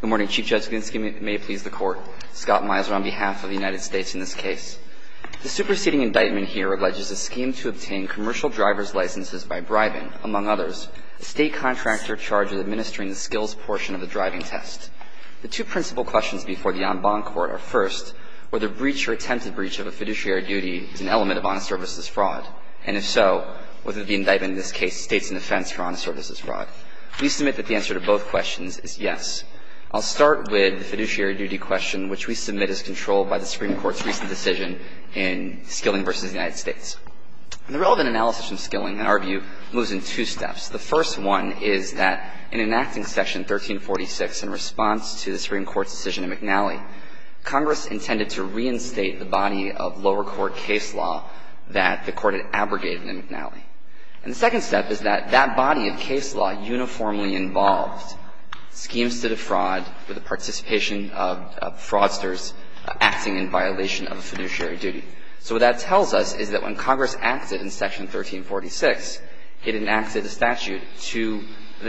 Good morning, Chief Justice Ginsburg. May it please the Court, Scott Miser on behalf of the United States in this case. The superseding indictment here alleges a scheme to obtain commercial driver's licenses by bribing, among others, a state contractor charged with administering the skills portion of the driving test. The two principal questions before the en banc court are first, whether breach or attempted breach of a fiduciary duty is an element of honest services fraud, and if so, whether the indictment in this case states an offense for honest services fraud. We submit that the answer to both questions is yes. I'll start with the fiduciary duty question, which we submit as controlled by the Supreme Court's recent decision in Skilling v. United States. The relevant analysis from Skilling, in our view, moves in two steps. The first one is that in enacting Section 1346 in response to the Supreme Court's decision in McNally, Congress intended to reinstate the body of lower court case law that the Court had abrogated in McNally. And the second step is that that body of case law uniformly involved schemes to defraud with the participation of fraudsters acting in violation of a fiduciary duty. So what that tells us is that when Congress acted in Section 1346, it enacted a statute to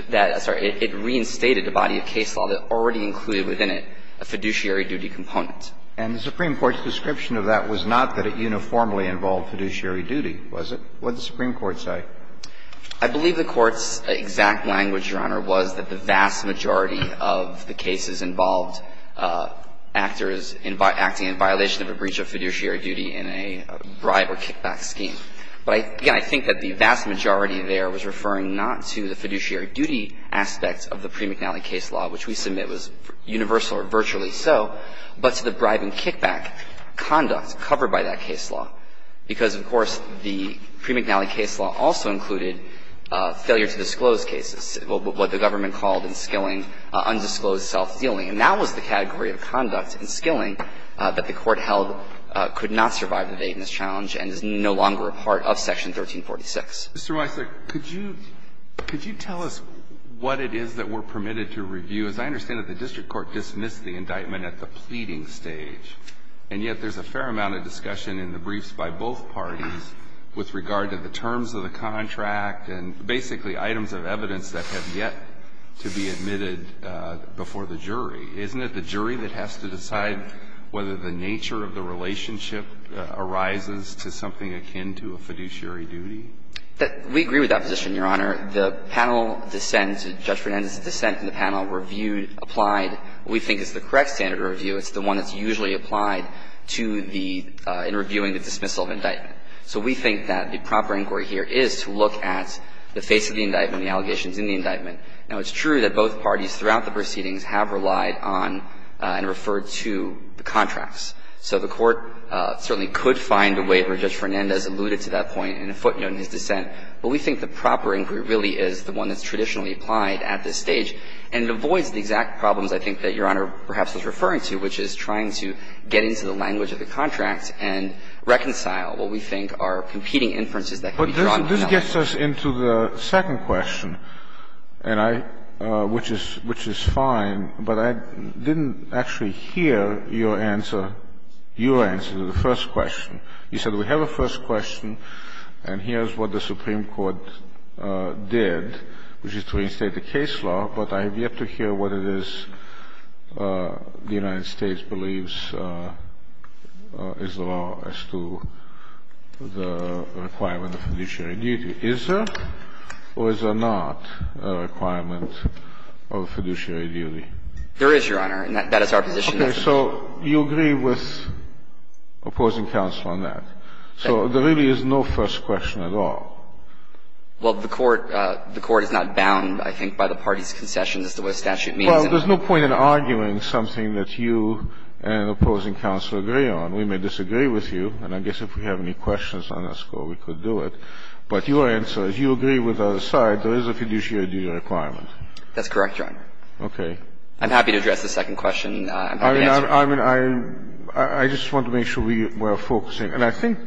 that – sorry, it reinstated a body of case law that already included within it a fiduciary duty component. And the Supreme Court's description of that was not that it uniformly involved fiduciary duty, was it? What did the Supreme Court say? I believe the Court's exact language, Your Honor, was that the vast majority of the cases involved actors acting in violation of a breach of fiduciary duty in a bribe or kickback scheme. But again, I think that the vast majority there was referring not to the fiduciary duty aspect of the pre-McNally case law, which we submit was universal or virtually so, but to the bribe and kickback conduct covered by that case law. Because, of course, the pre-McNally case law also included failure to disclose cases, what the government called in Skilling undisclosed self-dealing. And that was the category of conduct in Skilling that the Court held could not survive the vaidness challenge and is no longer a part of Section 1346. Alito, could you tell us what it is that we're permitted to review? As I understand it, the district court dismissed the indictment at the pleading stage, and yet there's a fair amount of discussion in the briefs by both parties with regard to the terms of the contract and basically items of evidence that have yet to be admitted before the jury. Isn't it the jury that has to decide whether the nature of the relationship arises to something akin to a fiduciary duty? We agree with that position, Your Honor. The panel dissents, Judge Fernandez dissents, and the panel reviewed, applied what we think is the correct standard of review. It's the one that's usually applied to the, in reviewing the dismissal of indictment. So we think that the proper inquiry here is to look at the face of the indictment, the allegations in the indictment. Now, it's true that both parties throughout the proceedings have relied on and referred to the contracts. So the Court certainly could find a waiver, Judge Fernandez alluded to that point in a footnote in his dissent, but we think the proper inquiry really is the one that's which is trying to get into the language of the contract and reconcile what we think are competing inferences that can be drawn from that. This gets us into the second question, and I, which is, which is fine, but I didn't actually hear your answer, your answer to the first question. You said we have a first question and here's what the Supreme Court did, which is to reinstate the case law. But I have yet to hear what it is the United States believes is the law as to the requirement of fiduciary duty. Is there or is there not a requirement of fiduciary duty? There is, Your Honor, and that is our position. Okay. So you agree with opposing counsel on that. So there really is no first question at all. Well, the Court, the Court is not bound, I think, by the parties' concessions as to what a statute means. Well, there's no point in arguing something that you and opposing counsel agree on. We may disagree with you, and I guess if we have any questions on this, we could do it. But your answer is you agree with the other side, there is a fiduciary duty requirement. That's correct, Your Honor. Okay. I'm happy to address the second question. I'm happy to answer it. I mean, I just want to make sure we are focusing. And I think,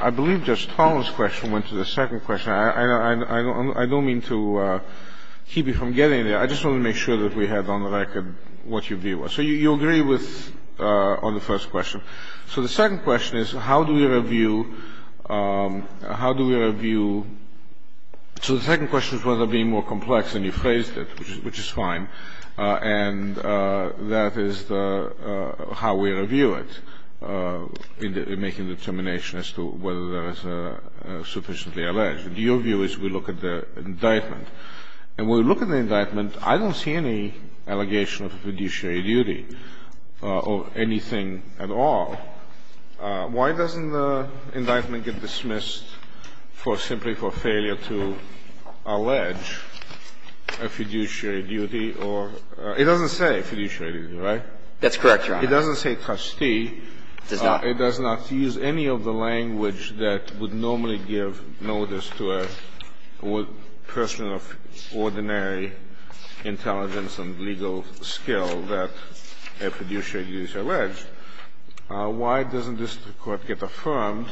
I believe Judge Tolan's question went to the second question. I don't mean to keep you from getting there. I just want to make sure that we have on record what your view was. So you agree with, on the first question. So the second question is how do we review, how do we review, so the second question is whether it would be more complex than you phrased it, which is fine. And that is the, how we review it, in making the determination as to whether there is a sufficiently alleged. Your view is we look at the indictment. And when we look at the indictment, I don't see any allegation of a fiduciary duty or anything at all. Why doesn't the indictment get dismissed for simply for failure to allege a fiduciary duty or it doesn't say fiduciary duty, right? That's correct, Your Honor. It doesn't say trustee. It does not. It does not use any of the language that would normally give notice to a person of ordinary intelligence and legal skill that a fiduciary duty is alleged. Why doesn't this Court get affirmed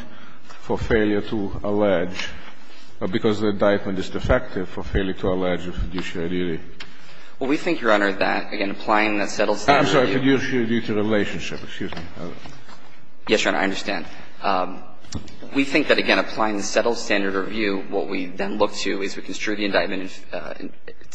for failure to allege, because the indictment is defective, for failure to allege a fiduciary duty? Well, we think, Your Honor, that, again, applying that settled standard review. I'm sorry. Fiduciary duty relationship. Excuse me. Yes, Your Honor. I understand. We think that, again, applying the settled standard review, what we then look to is we construe the indictment,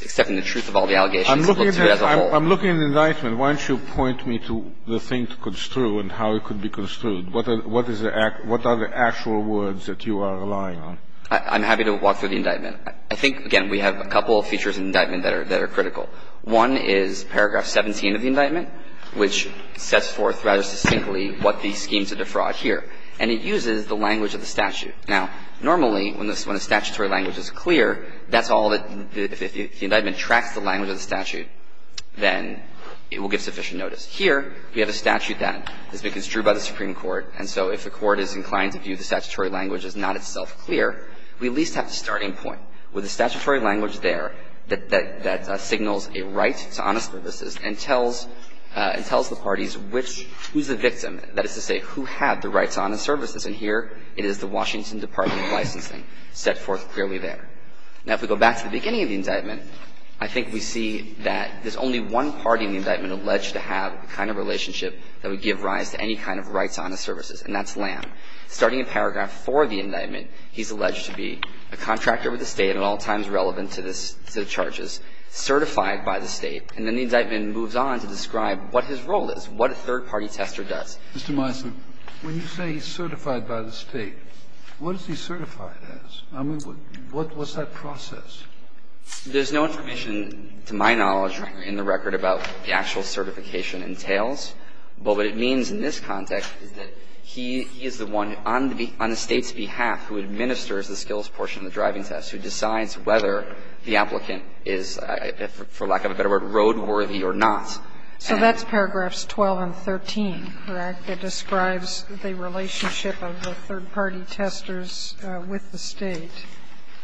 accepting the truth of all the allegations, and look to it as a whole. I'm looking at the indictment. Why don't you point me to the thing to construe and how it could be construed? What are the actual words that you are relying on? I'm happy to walk through the indictment. I think, again, we have a couple of features in the indictment that are critical. One is paragraph 17 of the indictment, which sets forth rather distinctly what the scheme to defraud here. And it uses the language of the statute. Now, normally, when a statutory language is clear, that's all that the indictment tracks, the language of the statute, then it will give sufficient notice. Here, we have a statute that has been construed by the Supreme Court, and so if the Court is inclined to view the statutory language as not itself clear, we at least have a starting point with a statutory language there that signals a right to honest services and tells the parties which, who's the victim. That is to say, who had the right to honest services. And here, it is the Washington Department of Licensing set forth clearly there. Now, if we go back to the beginning of the indictment, I think we see that there's only one party in the indictment alleged to have the kind of relationship that would give rise to any kind of right to honest services, and that's Lamb. Starting in paragraph four of the indictment, he's alleged to be a contractor with the State and at all times relevant to the charges, certified by the State. And then the indictment moves on to describe what his role is, what a third-party tester does. Mr. Meisler, when you say he's certified by the State, what is he certified as? I mean, what's that process? There's no information, to my knowledge, in the record, about what the actual certification entails. Well, what it means in this context is that he is the one on the State's behalf who administers the skills portion of the driving test, who decides whether the applicant is, for lack of a better word, roadworthy or not. So that's paragraphs 12 and 13, correct? It describes the relationship of the third-party testers with the State.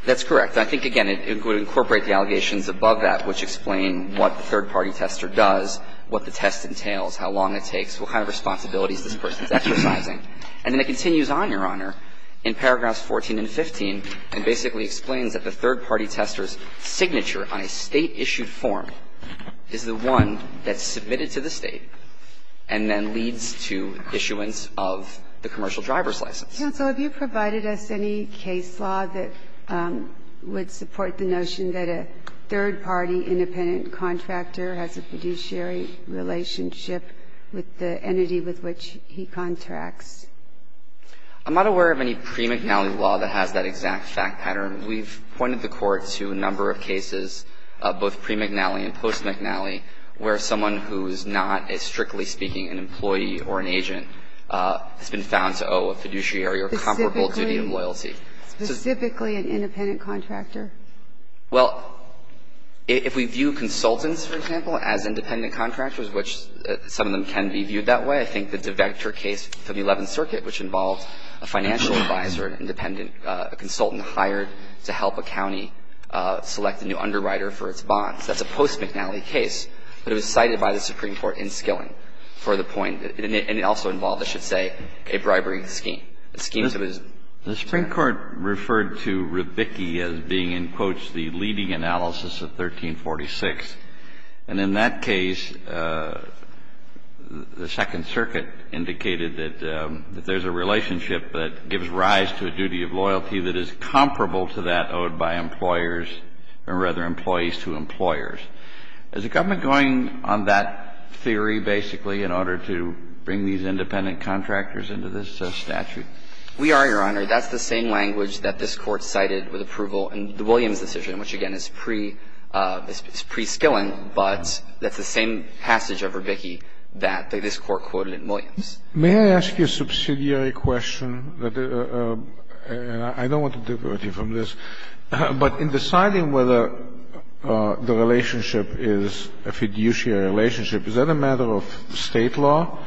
That's correct. I think, again, it would incorporate the allegations above that, which explain what the third-party tester does, what the test entails, how long it takes, what kind of responsibilities this person is exercising. And then it continues on, Your Honor, in paragraphs 14 and 15, and basically explains that the third-party tester's signature on a State-issued form is the one that's submitted to the State and then leads to issuance of the commercial driver's license. Counsel, have you provided us any case law that would support the notion that a third-party independent contractor has a fiduciary relationship with the entity with which he contracts? I'm not aware of any pre-McNally law that has that exact fact pattern. We've pointed the Court to a number of cases, both pre-McNally and post-McNally, where someone who is not, strictly speaking, an employee or an agent has been found to owe a fiduciary or comparable duty of loyalty. Specifically an independent contractor? Well, if we view consultants, for example, as independent contractors, which some of them can be viewed that way, I think that the Vector case for the Eleventh Circuit, which involved a financial advisor, independent, a consultant hired to help a county select a new underwriter for its bonds, that's a post-McNally case. But it was cited by the Supreme Court in Skilling for the point. And it also involved, I should say, a bribery scheme. The Supreme Court referred to rebicki as being, in quotes, the leading analysis of 1346. And in that case, the Second Circuit indicated that there's a relationship that gives rise to a duty of loyalty that is comparable to that owed by employers or, rather, employees to employers. Is the government going on that theory, basically, in order to bring these independent contractors into this statute? We are, Your Honor. That's the same language that this Court cited with approval in the Williams decision, which, again, is pre-Skilling, but that's the same passage of rebicki that this Court quoted in Williams. May I ask you a subsidiary question? I don't want to divert you from this. But in deciding whether the relationship is a fiduciary relationship, is that a matter of State law?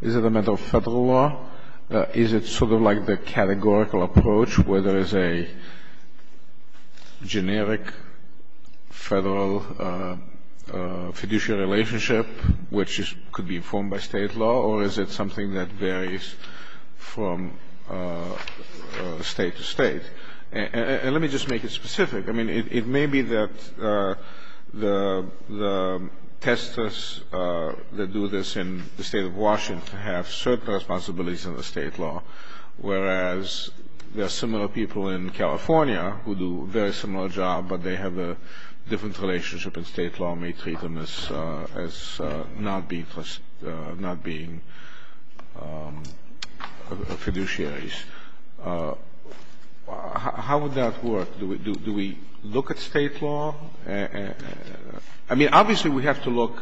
Is it a matter of Federal law? Is it sort of like the categorical approach, where there is a generic Federal fiduciary relationship, which could be formed by State law? Or is it something that varies from State to State? And let me just make it specific. I mean, it may be that the testers that do this in the State of Washington have certain responsibilities under State law, whereas there are similar people in California who do a very similar job, but they have a different relationship and State law may treat them as not being fiduciaries. How would that work? Do we look at State law? I mean, obviously, we have to look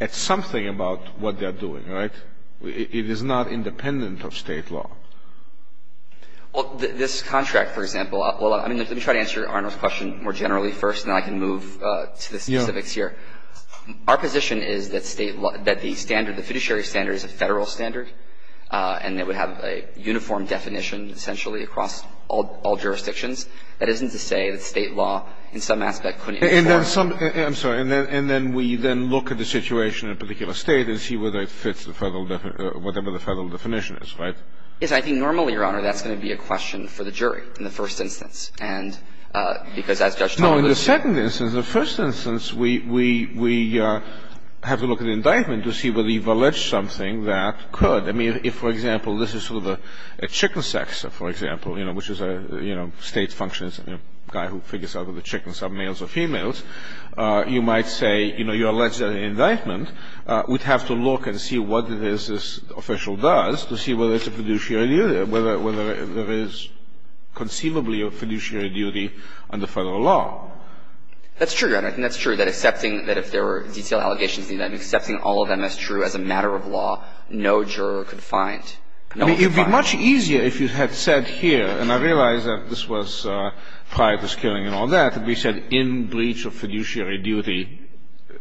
at something about what they're doing, right? It is not independent of State law. Well, this contract, for example, well, let me try to answer Your Honor's question more generally first, and then I can move to the specifics here. Our position is that State law, that the standard, the fiduciary standard is a Federal standard, and it would have a uniform definition, essentially, across all jurisdictions. That isn't to say that State law, in some aspect, couldn't be formed. And then some – I'm sorry. And then we then look at the situation in a particular State and see whether it fits the Federal – whatever the Federal definition is, right? Yes. I think normally, Your Honor, that's going to be a question for the jury in the first instance, and because as Judge Talbot said – No. In the second instance, the first instance, we have to look at the indictment to see whether you've alleged something that could. I mean, if, for example, this is sort of a chicken sex, for example, you know, which is a, you know, State function is a guy who figures out whether the chickens are males or females, you might say, you know, you alleged an indictment. We'd have to look and see what it is this official does to see whether it's a fiduciary duty, whether there is conceivably a fiduciary duty under Federal law. That's true, Your Honor. I think that's true, that accepting that if there were detailed allegations in the indictment, accepting all of them as true as a matter of law, no juror could find – I mean, it would be much easier if you had said here, and I realize that this was prior to this killing and all that, that we said in breach of fiduciary duty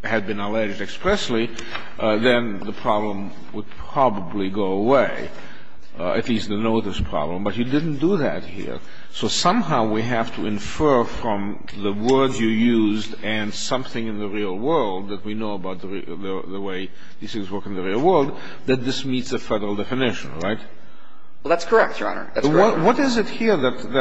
had been alleged expressly, then the problem would probably go away, at least the notice problem. But you didn't do that here. So somehow we have to infer from the words you used and something in the real world that we know about the way these things work in the real world, that this meets a Federal definition, right? Well, that's correct, Your Honor. That's correct. What is it here that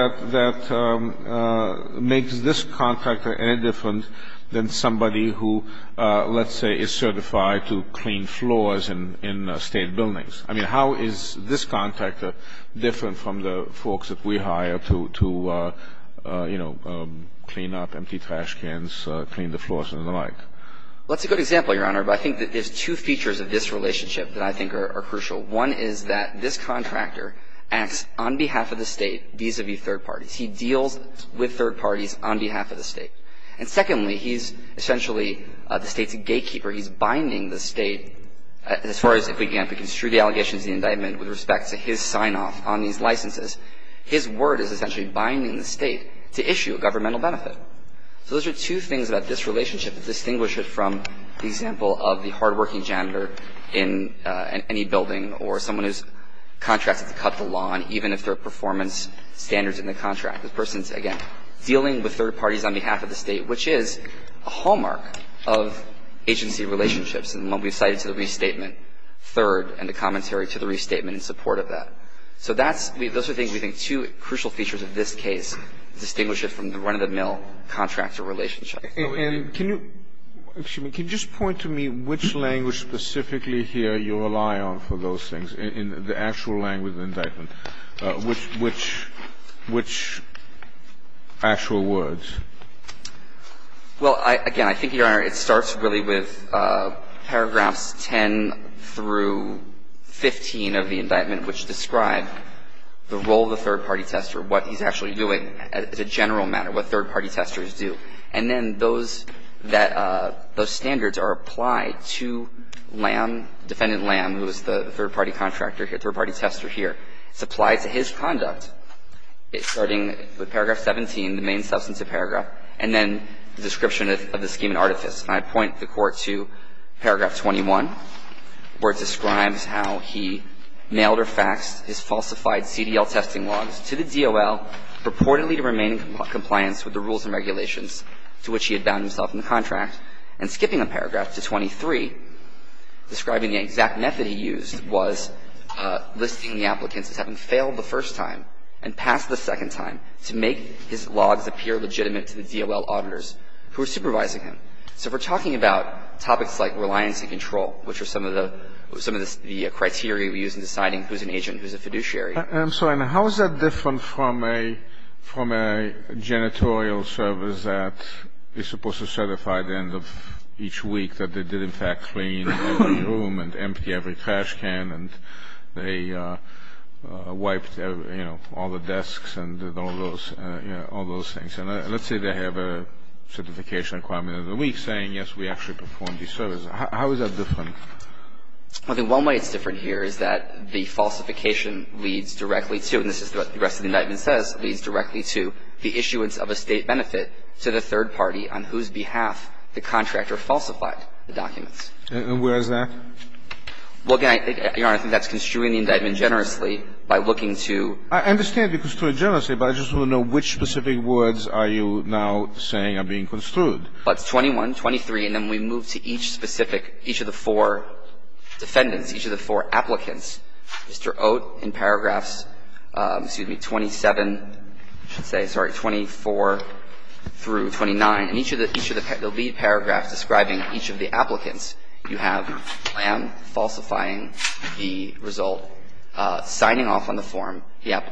makes this contractor any different than somebody who, let's say, is certified to clean floors in State buildings? I mean, how is this contractor different from the folks that we hire to, you know, clean up empty trash cans, clean the floors and the like? Well, that's a good example, Your Honor. But I think that there's two features of this relationship that I think are crucial. One is that this contractor acts on behalf of the State vis-a-vis third parties. He deals with third parties on behalf of the State. And secondly, he's essentially the State's gatekeeper. He's binding the State. As far as if we can't construe the allegations in the indictment with respect to his sign-off on these licenses, his word is essentially binding the State to issue a governmental benefit. So those are two things about this relationship that distinguish it from the example of the building or someone who's contracted to cut the lawn, even if there are performance standards in the contract. The person's, again, dealing with third parties on behalf of the State, which is a hallmark of agency relationships. And what we've cited to the restatement, third, and the commentary to the restatement in support of that. So that's – those are things we think two crucial features of this case distinguish it from the run-of-the-mill contractor relationship. And can you – excuse me. Can you just point to me which language specifically here you rely on for those things in the actual language of the indictment? Which actual words? Well, again, I think, Your Honor, it starts really with paragraphs 10 through 15 of the indictment, which describe the role of the third-party tester, what he's actually doing as a general matter, what third-party testers do. And then those that – those standards are applied to Lam, Defendant Lam, who is the third-party contractor here, third-party tester here. It's applied to his conduct, starting with paragraph 17, the main substantive paragraph, and then the description of the scheme in artifice. And I point the Court to paragraph 21, where it describes how he mailed or faxed his falsified CDL testing logs to the DOL purportedly to remain in compliance with the rules and regulations to which he had bound himself in the contract. And skipping a paragraph to 23, describing the exact method he used was listing the applicants as having failed the first time and passed the second time to make his logs appear legitimate to the DOL auditors who were supervising him. So we're talking about topics like reliance and control, which are some of the criteria we use in deciding who's an agent and who's a fiduciary. I'm sorry, now how is that different from a – from a janitorial service that is supposed to certify the end of each week that they did, in fact, clean every room and empty every trash can and they wiped, you know, all the desks and did all those – you know, all those things? And let's say they have a certification requirement of the week saying, yes, we actually performed these services. How is that different? Well, I think one way it's different here is that the falsification leads directly to, and this is what the rest of the indictment says, leads directly to the issuance of a State benefit to the third party on whose behalf the contractor falsified the documents. And where is that? Well, again, Your Honor, I think that's construing the indictment generously by looking to – I understand you construed it generously, but I just want to know which specific words are you now saying are being construed? Well, it's 21, 23, and then we move to each specific – each of the four defendants, each of the four applicants. Mr. Oat in paragraphs, excuse me, 27 – I should say, sorry, 24 through 29. In each of the – each of the lead paragraphs describing each of the applicants, you have Lam falsifying the result, signing off on the form. The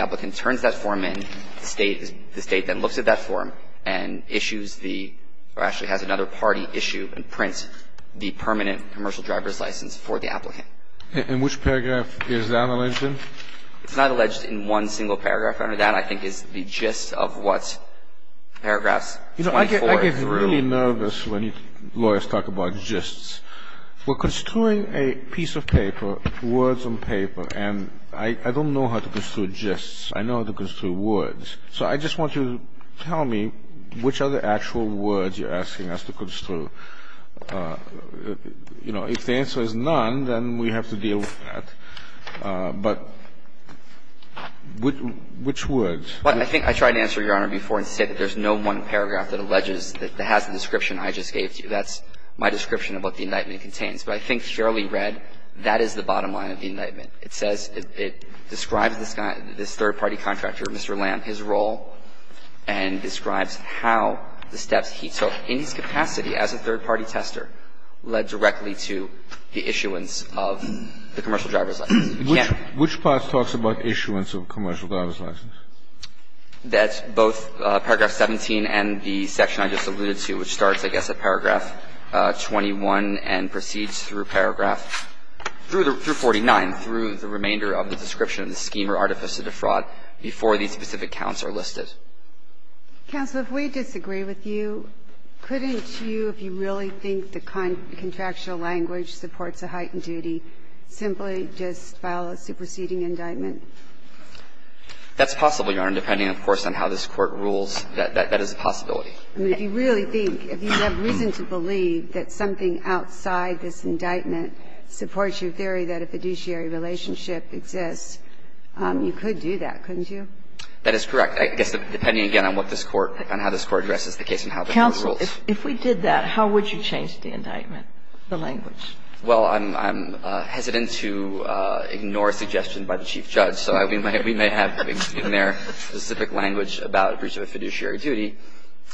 applicant turns that form in. The State then looks at that form and issues the – or actually has another party issue and prints the permanent commercial driver's license for the applicant. And which paragraph is that alleged in? It's not alleged in one single paragraph, Your Honor. That, I think, is the gist of what paragraphs 24 through – You know, I get really nervous when lawyers talk about gists. We're construing a piece of paper, words on paper, and I don't know how to construe gists. I know how to construe words. So I just want you to tell me which are the actual words you're asking us to construe. You know, if the answer is none, then we have to deal with that. But which words? Well, I think I tried to answer, Your Honor, before and say that there's no one paragraph that alleges – that has the description I just gave to you. That's my description of what the indictment contains. But I think surely read, that is the bottom line of the indictment. It says – it describes this third-party contractor, Mr. Lamb, his role, and describes how the steps he took in his capacity as a third-party tester led directly to the issuance of the commercial driver's license. Which part talks about issuance of commercial driver's license? That's both paragraph 17 and the section I just alluded to, which starts, I guess, at paragraph 21 and proceeds through paragraph – through 49, through the remainder of the description of the scheme or artifice of the fraud before these specific counts are listed. Counsel, if we disagree with you, couldn't you, if you really think the contractual language supports a heightened duty, simply just file a superseding indictment? That's possible, Your Honor, depending, of course, on how this Court rules. That is a possibility. I mean, if you really think, if you have reason to believe that something outside this indictment supports your theory that a fiduciary relationship exists, you could do that, couldn't you? That is correct. I guess, depending, again, on what this Court – on how this Court addresses the case and how the Court rules. Counsel, if we did that, how would you change the indictment, the language? Well, I'm hesitant to ignore a suggestion by the Chief Judge. So we may have in there a specific language about breach of a fiduciary duty.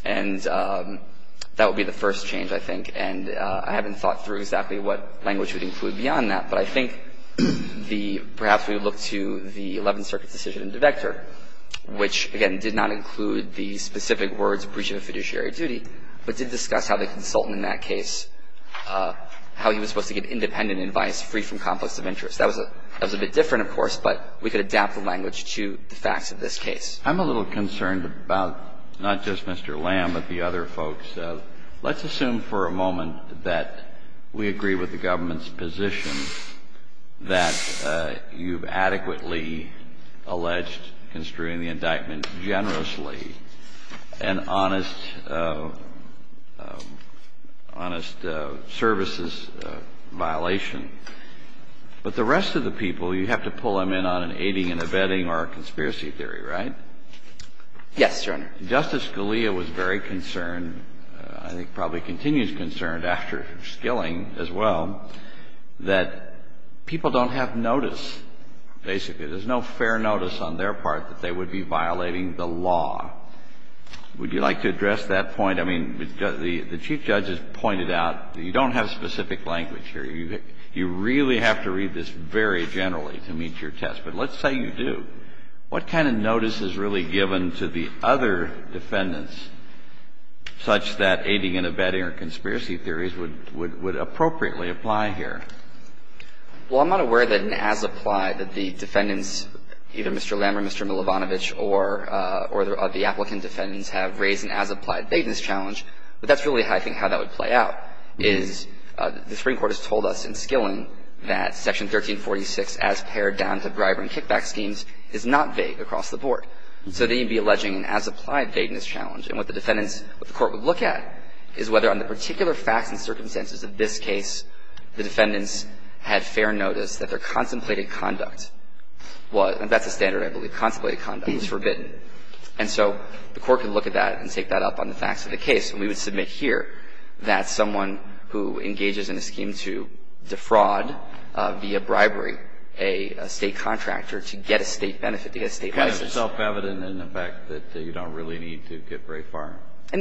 And that would be the first change, I think. And I haven't thought through exactly what language we'd include beyond that. But I think the – perhaps we would look to the Eleventh Circuit's decision in De Vector, which, again, did not include the specific words, breach of a fiduciary duty, but did discuss how the consultant in that case – how he was supposed to give independent advice free from complex of interest. That was a bit different, of course, but we could adapt the language to the facts of this case. I'm a little concerned about not just Mr. Lamb, but the other folks. Let's assume for a moment that we agree with the government's position that you've adequately alleged construing the indictment generously, an honest – honest services violation. But the rest of the people, you have to pull them in on an aiding and abetting or a conspiracy theory, right? Yes, Your Honor. Justice Scalia was very concerned, I think probably continues concerned after Skilling as well, that people don't have notice, basically. There's no fair notice on their part that they would be violating the law. Would you like to address that point? I mean, the Chief Judge has pointed out you don't have specific language here. You really have to read this very generally to meet your test. But let's say you do. What kind of notice is really given to the other defendants such that aiding and abetting or conspiracy theories would appropriately apply here? Well, I'm not aware that an as-applied, that the defendants, either Mr. Lamb or Mr. Milovanovich or the applicant defendants have raised an as-applied bateness challenge, but that's really, I think, how that would play out, is the Supreme Court's ruling in 1846 as pared down to bribery and kickback schemes is not vague across the board. So then you'd be alleging an as-applied bateness challenge. And what the defendants, what the Court would look at is whether on the particular facts and circumstances of this case, the defendants had fair notice that their contemplated conduct was, and that's a standard, I believe, contemplated conduct was forbidden. And so the Court could look at that and take that up on the facts of the case. And we would submit here that someone who engages in a scheme to defraud, via bribery, a state contractor to get a state benefit, to get a state license. Kind of self-evident in the fact that you don't really need to get very far.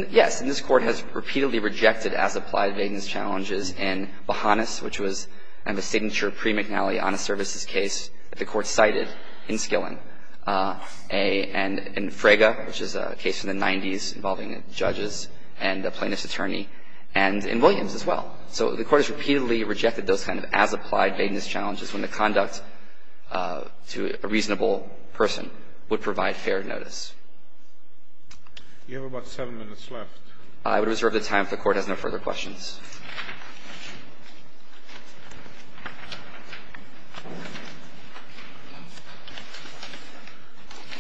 Yes. And this Court has repeatedly rejected as-applied bateness challenges in Bahanas, which was kind of a signature pre-McNally, honest services case that the Court cited in Skilling. And in Frege, which is a case from the 90s involving judges. And a plaintiff's attorney. And in Williams as well. So the Court has repeatedly rejected those kind of as-applied bateness challenges when the conduct to a reasonable person would provide fair notice. You have about seven minutes left. I would reserve the time if the Court has no further questions.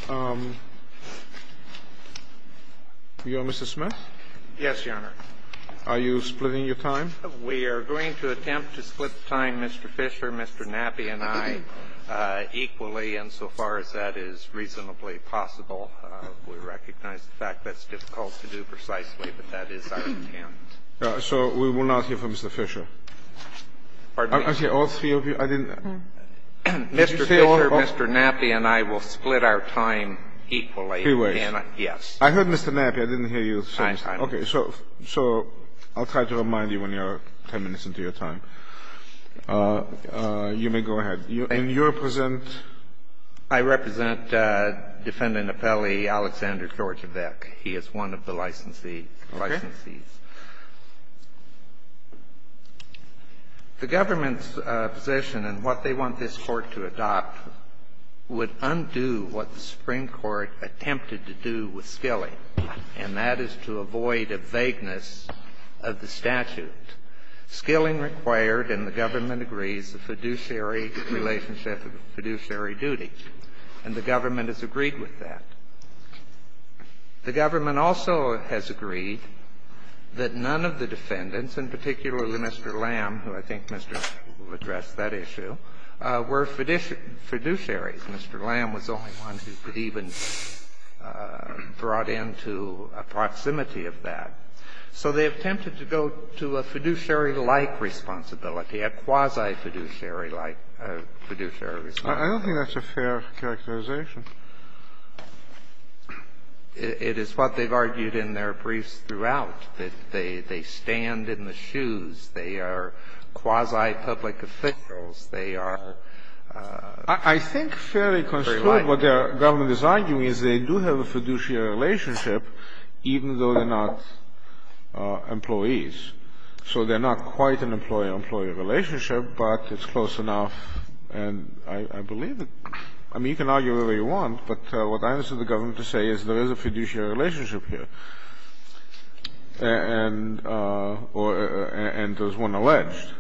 You are Mr. Smith? Yes, Your Honor. Are you splitting your time? We are going to attempt to split the time, Mr. Fisher, Mr. Naby, and I, equally insofar as that is reasonably possible. We recognize the fact that's difficult to do precisely, but that is our intent. All right. So we will not hear from Mr. Fisher? Pardon me? Okay. All three of you? Mr. Fisher, Mr. Naby, and I will split our time equally. Three ways. Yes. I heard Mr. Naby. I didn't hear you. Okay. So I'll try to remind you when you are 10 minutes into your time. You may go ahead. And you represent? I represent Defendant Apelli Alexander Georgia Beck. He is one of the licensees. Okay. He is one of the licensees. The government's position and what they want this Court to adopt would undo what the Supreme Court attempted to do with skilling, and that is to avoid a vagueness of the statute. Skilling required, and the government agrees, the fiduciary relationship of fiduciary duty, and the government has agreed with that. The government also has agreed that none of the defendants, and particularly Mr. Lamb, who I think addressed that issue, were fiduciaries. Mr. Lamb was the only one who could even be brought into a proximity of that. So they attempted to go to a fiduciary-like responsibility, a quasi-fiduciary like fiduciary responsibility. I don't think that's a fair characterization. It is what they've argued in their briefs throughout, that they stand in the shoes. They are quasi-public officials. They are very likely. I think fairly construed what the government is arguing is they do have a fiduciary relationship, even though they're not employees. So they're not quite an employee-employee relationship, but it's close enough. And I believe that you can argue whatever you want, but what I ask of the government to say is there is a fiduciary relationship here, and there's one alleged.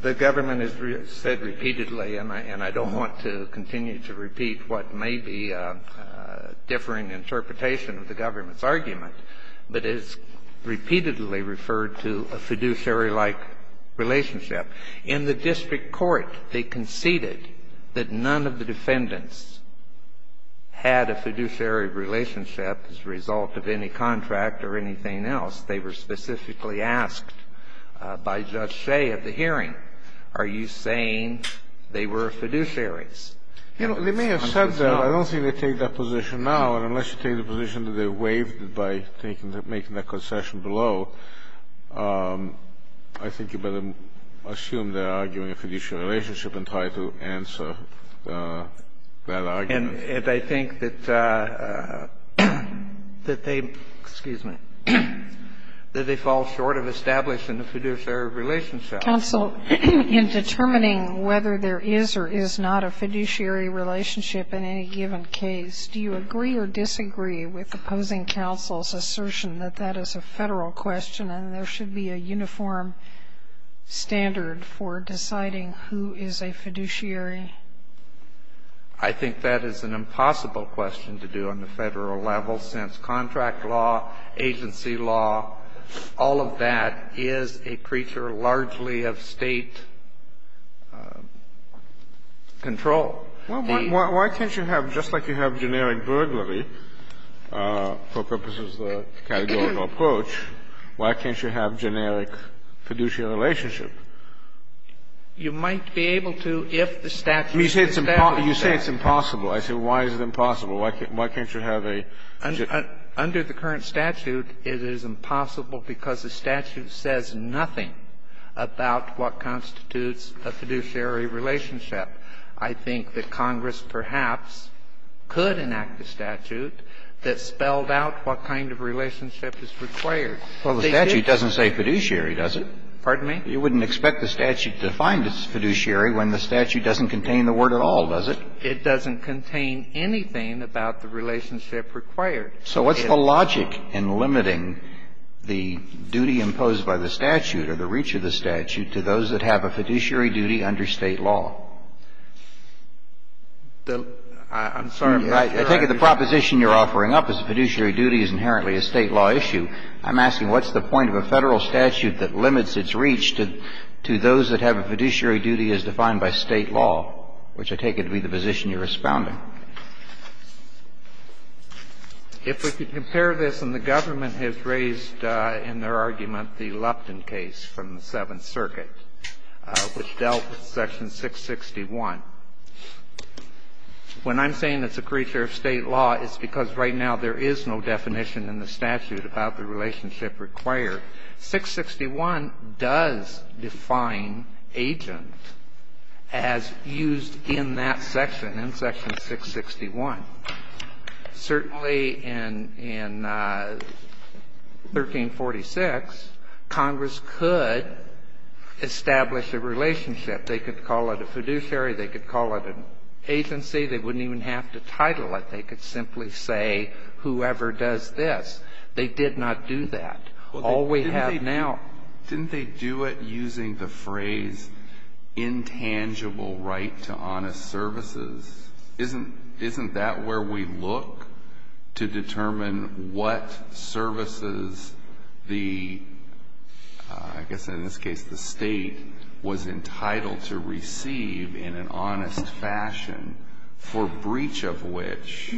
The government has said repeatedly, and I don't want to continue to repeat what may be a differing interpretation of the government's argument, but it's repeatedly referred to a fiduciary-like relationship. In the district court, they conceded that none of the defendants had a fiduciary relationship as a result of any contract or anything else. They were specifically asked by Judge Shea at the hearing, are you saying they were fiduciaries? You know, they may have said that. I don't think they take that position now. Unless you take the position that they waived it by making that concession below, I think you better assume they're arguing a fiduciary relationship and try to answer that argument. And I think that they fall short of establishing a fiduciary relationship. Counsel, in determining whether there is or is not a fiduciary relationship in any given case, do you agree or disagree with opposing counsel's assertion that that is a Federal question and there should be a uniform standard for deciding who is a fiduciary? I think that is an impossible question to do on the Federal level, since contract law, agency law, all of that is a creature largely of State control. Well, why can't you have, just like you have generic burglary, for purposes of the categorical approach, why can't you have generic fiduciary relationship? You might be able to if the statute establishes that. You say it's impossible. I say, why is it impossible? Why can't you have a... Under the current statute, it is impossible because the statute says nothing about what constitutes a fiduciary relationship. I think that Congress perhaps could enact a statute that spelled out what kind of relationship is required. Well, the statute doesn't say fiduciary, does it? Pardon me? You wouldn't expect the statute to find it's fiduciary when the statute doesn't contain the word at all, does it? It doesn't contain anything about the relationship required. So what's the logic in limiting the duty imposed by the statute or the reach of the statute to those that have a fiduciary duty under State law? I'm sorry. I take it the proposition you're offering up is fiduciary duty is inherently a State law issue. I'm asking what's the point of a Federal statute that limits its reach to those that have a fiduciary duty as defined by State law, which I take it to be the position you're responding. If we could compare this, and the government has raised in their argument the Lupton case from the Seventh Circuit, which dealt with Section 661. When I'm saying it's a creature of State law, it's because right now there is no definition in the statute about the relationship required. 661 does define agent as used in that section, in Section 661. Certainly in 1346, Congress could establish a relationship. They could call it a fiduciary. They could call it an agency. They wouldn't even have to title it. They could simply say, whoever does this. They did not do that. All we have now. Didn't they do it using the phrase, intangible right to honest services? Isn't that where we look to determine what services the, I guess in this case, the State was entitled to receive in an honest fashion, for breach of which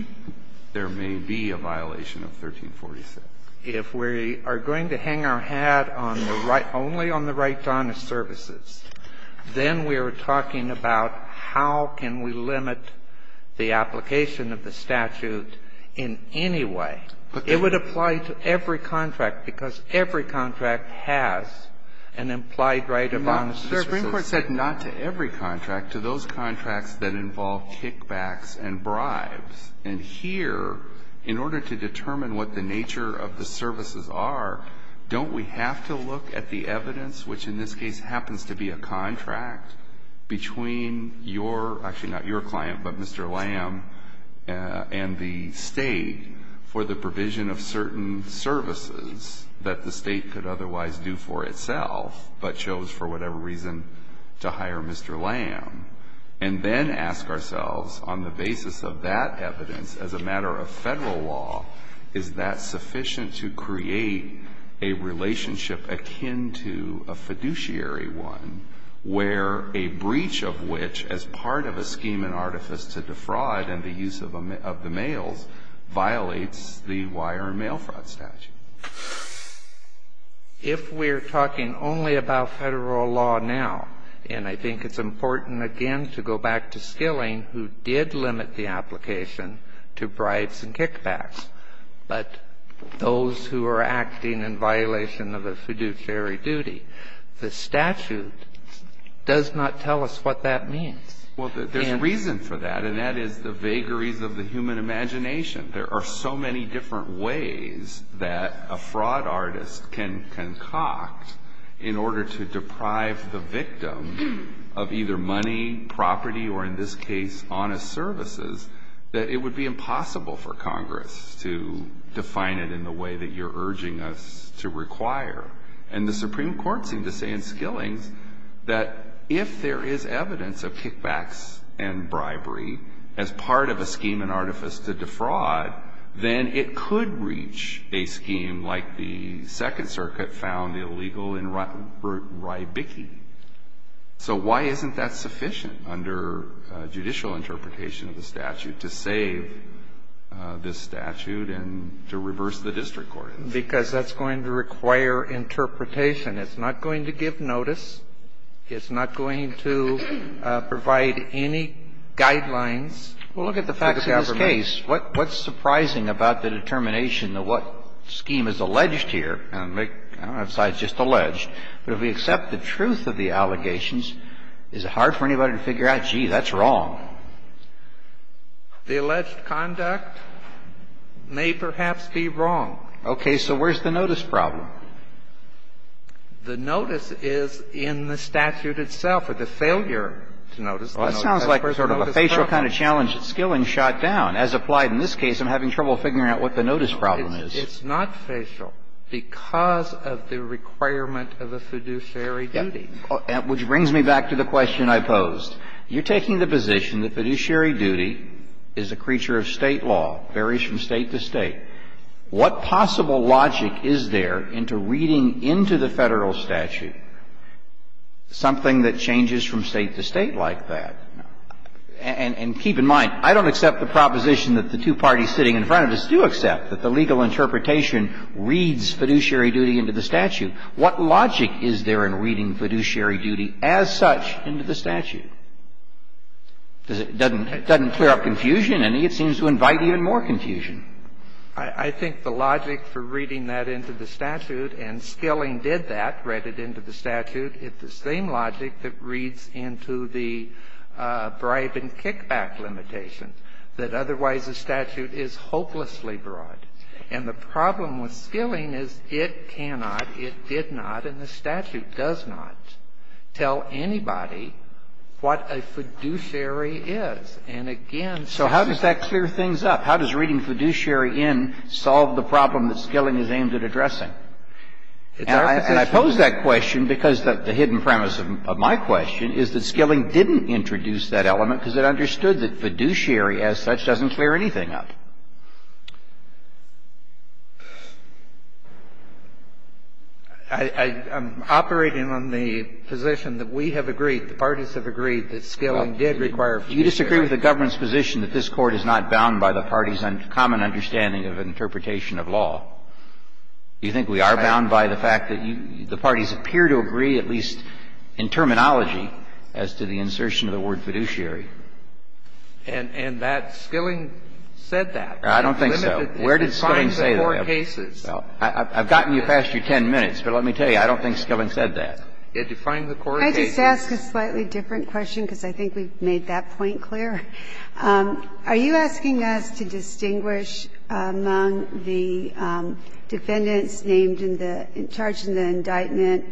there may be a violation of 1346? If we are going to hang our hat on the right, only on the right to honest services, then we are talking about how can we limit the application of the statute in any way. It would apply to every contract, because every contract has an implied right of honest services. Mr. Greenberg said not to every contract, to those contracts that involve kickbacks and bribes. And here, in order to determine what the nature of the services are, don't we have to look at the evidence, which in this case happens to be a contract, between your, actually not your client, but Mr. Lamb, and the State for the provision of certain services that the State could otherwise do for itself, but chose for whatever reason to hire Mr. Lamb. And then ask ourselves, on the basis of that evidence, as a matter of Federal law, is that sufficient to create a relationship akin to a fiduciary one, where a breach of which, as part of a scheme and artifice to defraud and the use of the mails, violates the wire and mail fraud statute? If we are talking only about Federal law now, and I think it's important again to go back to Skilling, who did limit the application to bribes and kickbacks. But those who are acting in violation of a fiduciary duty, the statute does not tell us what that means. Well, there's reason for that, and that is the vagaries of the human imagination. There are so many different ways that a fraud artist can concoct in order to deprive the victim of either money, property, or in this case, honest services, that it would be impossible for Congress to define it in the way that you're urging us to require. And the Supreme Court seemed to say in Skillings that if there is evidence of kickbacks and bribery as part of a scheme and artifice to defraud, then it could reach a scheme like the Second Circuit found illegal in Rybicki. So why isn't that sufficient under judicial interpretation of the statute to save this statute and to reverse the district court? Because that's going to require interpretation. It's not going to give notice. It's not going to provide any guidelines. Well, look at the facts of this case. What's surprising about the determination of what scheme is alleged here? I don't know if it's just alleged, but if we accept the truth of the allegations, is it hard for anybody to figure out, gee, that's wrong? The alleged conduct may perhaps be wrong. Okay. So where's the notice problem? The notice is in the statute itself, or the failure to notice the notice. Well, that sounds like sort of a facial kind of challenge that Skillings shot down. As applied in this case, I'm having trouble figuring out what the notice problem is. It's not facial because of the requirement of a fiduciary duty. Which brings me back to the question I posed. You're taking the position that fiduciary duty is a creature of State law, varies from State to State. What possible logic is there into reading into the Federal statute something that changes from State to State like that? And keep in mind, I don't accept the proposition that the two parties sitting in front of us do accept, that the legal interpretation reads fiduciary duty into the statute. What logic is there in reading fiduciary duty as such into the statute? Does it doesn't clear up confusion? It seems to invite even more confusion. I think the logic for reading that into the statute, and Skilling did that, read it into the statute, it's the same logic that reads into the bribe and kickback limitations, that otherwise the statute is hopelessly broad. And the problem with Skilling is it cannot, it did not, and the statute does not, tell anybody what a fiduciary is. And again... So how does that clear things up? How does reading fiduciary in solve the problem that Skilling is aimed at addressing? It's our position. And I pose that question because the hidden premise of my question is that Skilling didn't introduce that element because it understood that fiduciary as such doesn't clear anything up. I'm operating on the position that we have agreed, the parties have agreed, that Skilling did require fiduciary. Well, do you disagree with the government's position that this Court is not bound by the parties' common understanding of interpretation of law? Do you think we are bound by the fact that the parties appear to agree, at least in terminology, as to the insertion of the word fiduciary? And that Skilling said that. I don't think so. Where did Skilling say that? It defined the core cases. Well, I've gotten you past your 10 minutes, but let me tell you, I don't think Skilling said that. It defined the core cases. Can I just ask a slightly different question because I think we've made that point clear? Are you asking us to distinguish among the defendants named in the charge in the indictment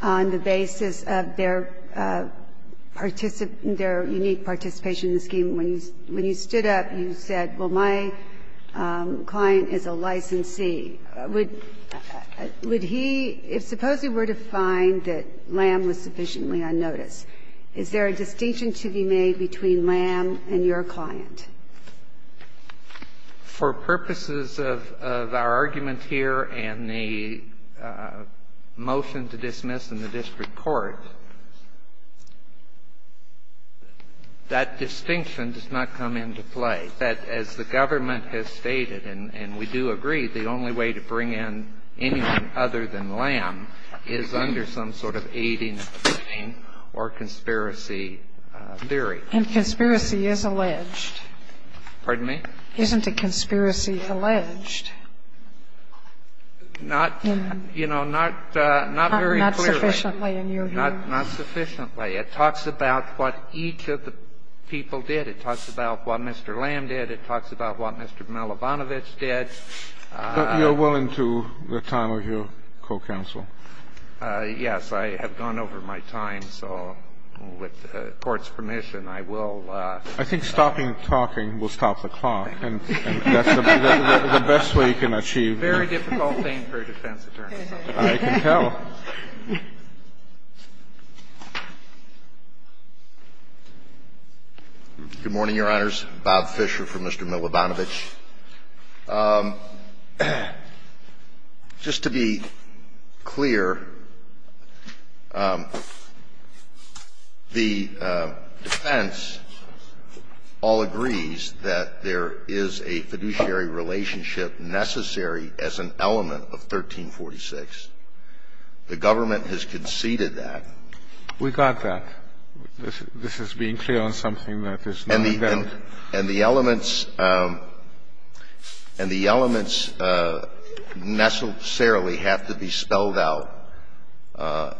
on the basis of their unique participation in the scheme? When you stood up, you said, well, my client is a licensee. Would he, if supposedly we're to find that Lamb was sufficiently unnoticed, is there a distinction to be made between Lamb and your client? For purposes of our argument here and the motion to dismiss in the district court, that distinction does not come into play. That, as the government has stated, and we do agree, the only way to bring in anyone other than Lamb is under some sort of aiding and abetting or conspiracy theory. And conspiracy is alleged. Pardon me? Isn't a conspiracy alleged? Not, you know, not very clearly. Not sufficiently in your view? Not sufficiently. It talks about what each of the people did. It talks about what Mr. Lamb did. It talks about what Mr. Malabonovich did. But you're willing to the time of your co-counsel? Yes. I have gone over my time, so with the Court's permission, I will. I think stopping talking will stop the clock. And that's the best way you can achieve. It's a very difficult thing for a defense attorney. I can tell. Good morning, Your Honors. Bob Fisher for Mr. Malabonovich. Just to be clear, the defense all agrees that there is a fiduciary relationship necessary as an element of 1346. The government has conceded that. We got that. This is being clear on something that is not there. And the elements necessarily have to be spelled out. Why?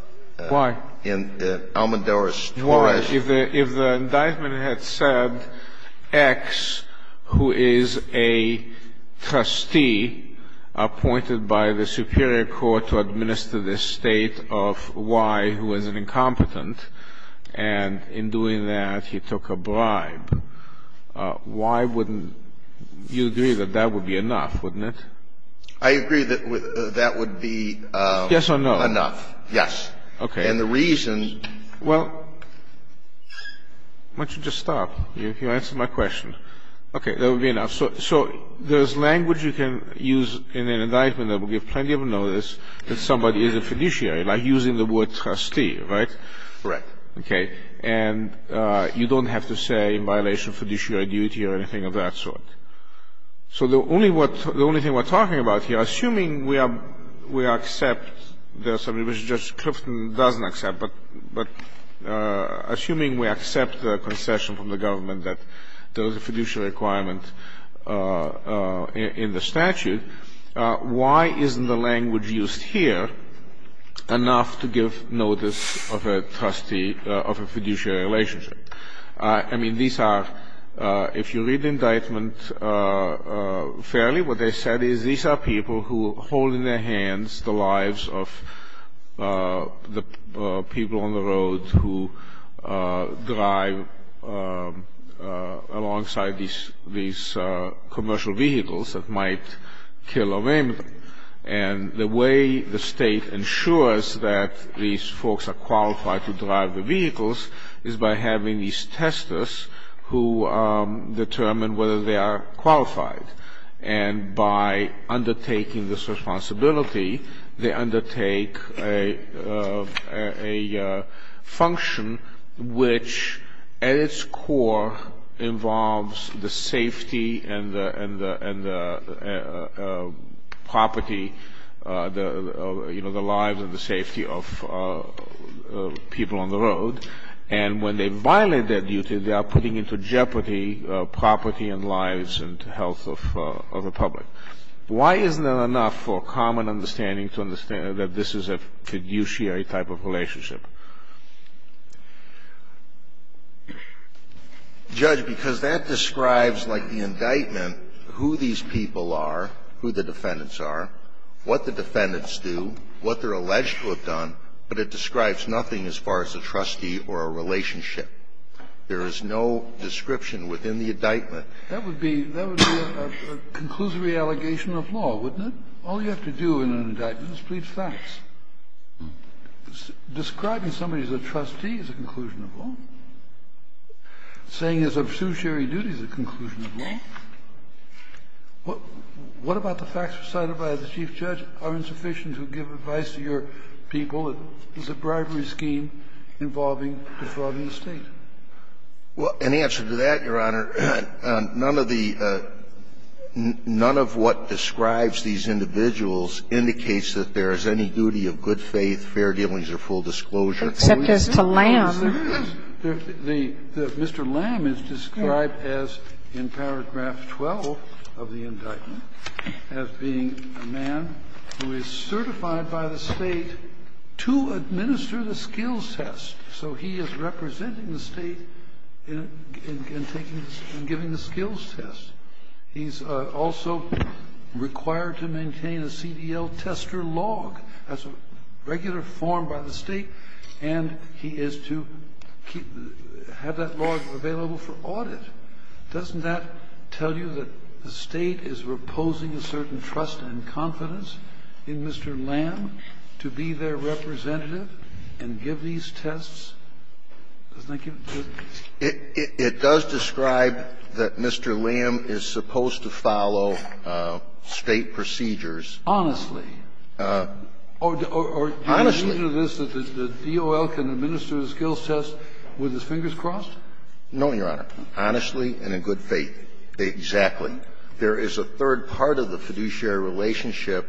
Almodoros-Torres. If the indictment had said X, who is a trustee appointed by the superior court to administer this state of Y, who is an incompetent, and in doing that, he took a bribe, why wouldn't you agree that that would be enough, wouldn't it? I agree that that would be enough. Yes or no? Yes. Okay. And the reason... Well, why don't you just stop? You answered my question. Okay. That would be enough. So there's language you can use in an indictment that would give plenty of notice that somebody is a fiduciary, like using the word trustee, right? Correct. Okay. And you don't have to say in violation of fiduciary duty or anything of that sort. So the only thing we're talking about here, assuming we accept this, I mean, Judge Clifton doesn't accept, but assuming we accept the concession from the government that there is a fiduciary requirement in the statute, then why isn't the language used here enough to give notice of a fiduciary relationship? I mean, these are, if you read the indictment fairly, what they said is these are people who hold in their hands the lives of the people on the road who drive alongside these commercial vehicles that might kill or rape them. And the way the state ensures that these folks are qualified to drive the vehicles is by having these testers who determine whether they are qualified. And by undertaking this responsibility, they undertake a function which at its core involves the safety and the property, you know, the lives and the safety of people on the road. And when they violate their duty, they are putting into jeopardy property and lives and health of the public. Why isn't that enough for a common understanding to understand that this is a fiduciary type of relationship? Judge, because that describes like the indictment who these people are, who the defendants are, what the defendants do, what they're alleged to have done, but it describes nothing as far as a trustee or a relationship. There is no description within the indictment. That would be a conclusory allegation of law, wouldn't it? All you have to do in an indictment is plead facts. Describing somebody as a trustee is a conclusion of law. Saying it's a fiduciary duty is a conclusion of law. What about the facts recited by the chief judge are insufficient to give advice to your people that this is a bribery scheme involving defrauding the State? Well, in answer to that, Your Honor, none of the ñ none of what describes these individuals indicates that there is any duty of good faith, fair dealings or full disclosure. Except as to Lamb. Mr. Lamb is described as, in paragraph 12 of the indictment, as being a man who is certified by the State to administer the skills test. So he is representing the State in giving the skills test. He's also required to maintain a CDL tester log as a regular form by the State and he is to have that log available for audit. Doesn't that tell you that the State is reposing a certain trust and confidence in Mr. Lamb to be their representative and give these tests? Doesn't that give it to you? It does describe that Mr. Lamb is supposed to follow State procedures. Honestly. Honestly. Or do you mean to this that the DOL can administer the skills test with his fingers crossed? No, Your Honor. Honestly and in good faith. Exactly. There is a third part of the fiduciary relationship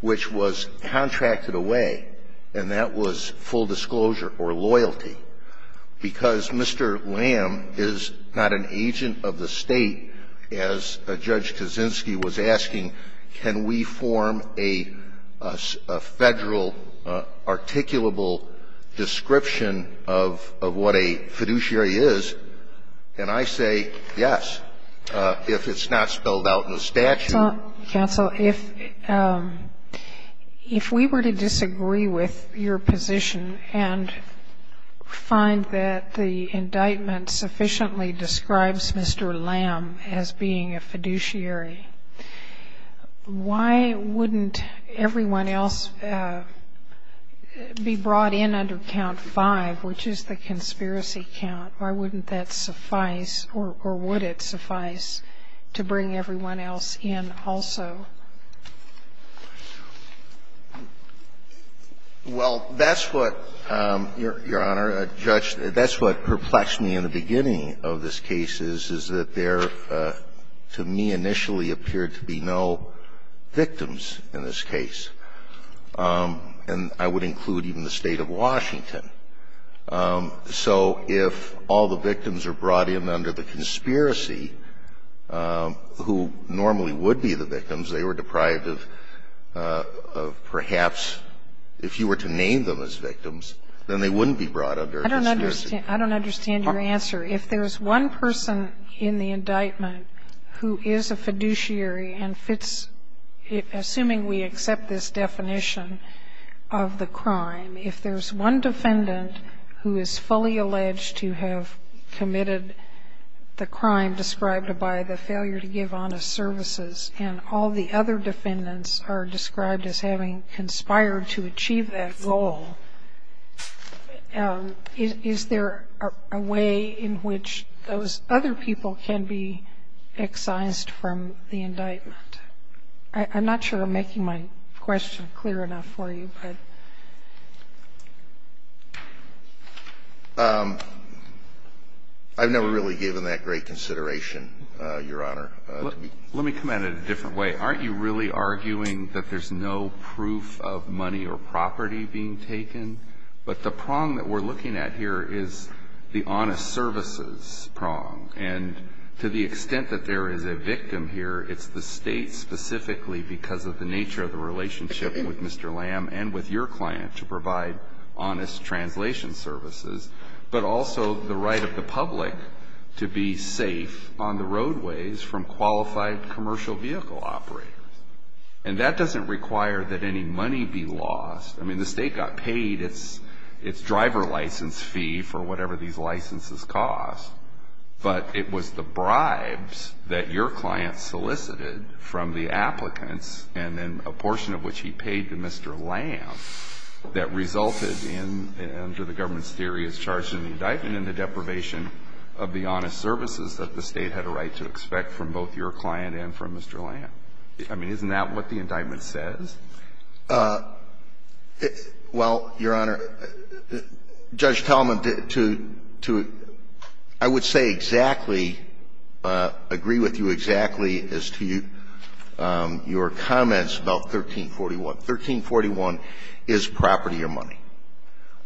which was contracted away and that was full disclosure or loyalty. Because Mr. Lamb is not an agent of the State, as Judge Kaczynski was asking, can we form a Federal articulable description of what a fiduciary is? And I say yes, if it's not spelled out in the statute. Counsel, if we were to disagree with your position and find that the indictment sufficiently describes Mr. Lamb as being a fiduciary, why wouldn't everyone else be brought in under count five, which is the conspiracy count? Why wouldn't that suffice or would it suffice to bring everyone else in also? Well, that's what, Your Honor, Judge, that's what perplexed me in the beginning of this case is that there to me initially appeared to be no victims in this case. And I would include even the State of Washington. So if all the victims are brought in under the conspiracy who normally would be the victims, they were deprived of perhaps, if you were to name them as victims, then they wouldn't be brought under a conspiracy. I don't understand your answer. If there's one person in the indictment who is a fiduciary and fits, assuming we accept this definition of the crime, if there's one defendant who is fully alleged to have committed the crime described by the failure to give honest services and all the other defendants are described as having conspired to achieve that goal, is there a way in which those other people can be excised from the indictment? I'm not sure I'm making my question clear enough for you. I've never really given that great consideration, Your Honor. Let me come at it a different way. Aren't you really arguing that there's no proof of money or property being taken? But the prong that we're looking at here is the honest services prong. And to the extent that there is a victim here, it's the state specifically because of the nature of the relationship with Mr. Lam and with your client to provide honest translation services, but also the right of the public to be safe on the roadways from qualified commercial vehicle operators. And that doesn't require that any money be lost. I mean, the state got paid its driver license fee for whatever these licenses cost, but it was the bribes that your client solicited from the applicants and then a portion of which he paid to Mr. Lam that resulted in, under the government's theory, is charged in the indictment in the deprivation of the honest services that the state had a right to expect from both your client and from Mr. Lam. I mean, isn't that what the indictment says? Well, Your Honor, Judge Talmadge, I would say exactly, agree with you exactly as to your comments about 1341. 1341 is property or money.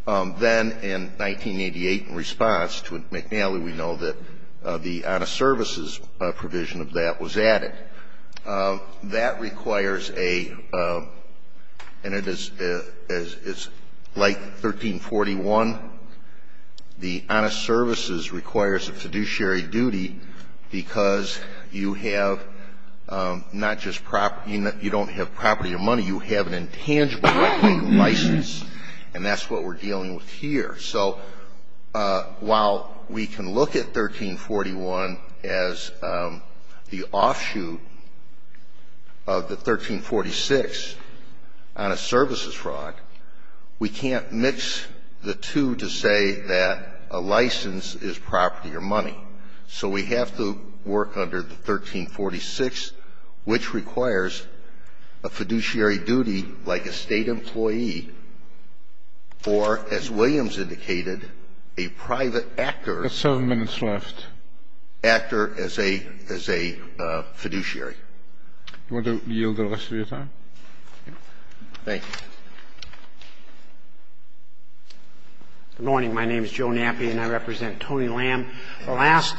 Then in 1988, in response to McNally, we know that the honest services provision of that was added. That requires a, and it is like 1341. The honest services requires a fiduciary duty because you have not just property, you don't have property or money. You have an intangible license, and that's what we're dealing with here. So while we can look at 1341 as the offshoot of the 1346 on a services fraud, we can't mix the two to say that a license is property or money. So we have to work under the 1346, which requires a fiduciary duty like a state employee or, as Williams indicated, a private actor. You have seven minutes left. Actor as a fiduciary. Do you want to yield the rest of your time? Thank you. Good morning. My name is Joe Nappi, and I represent Tony Lam, the last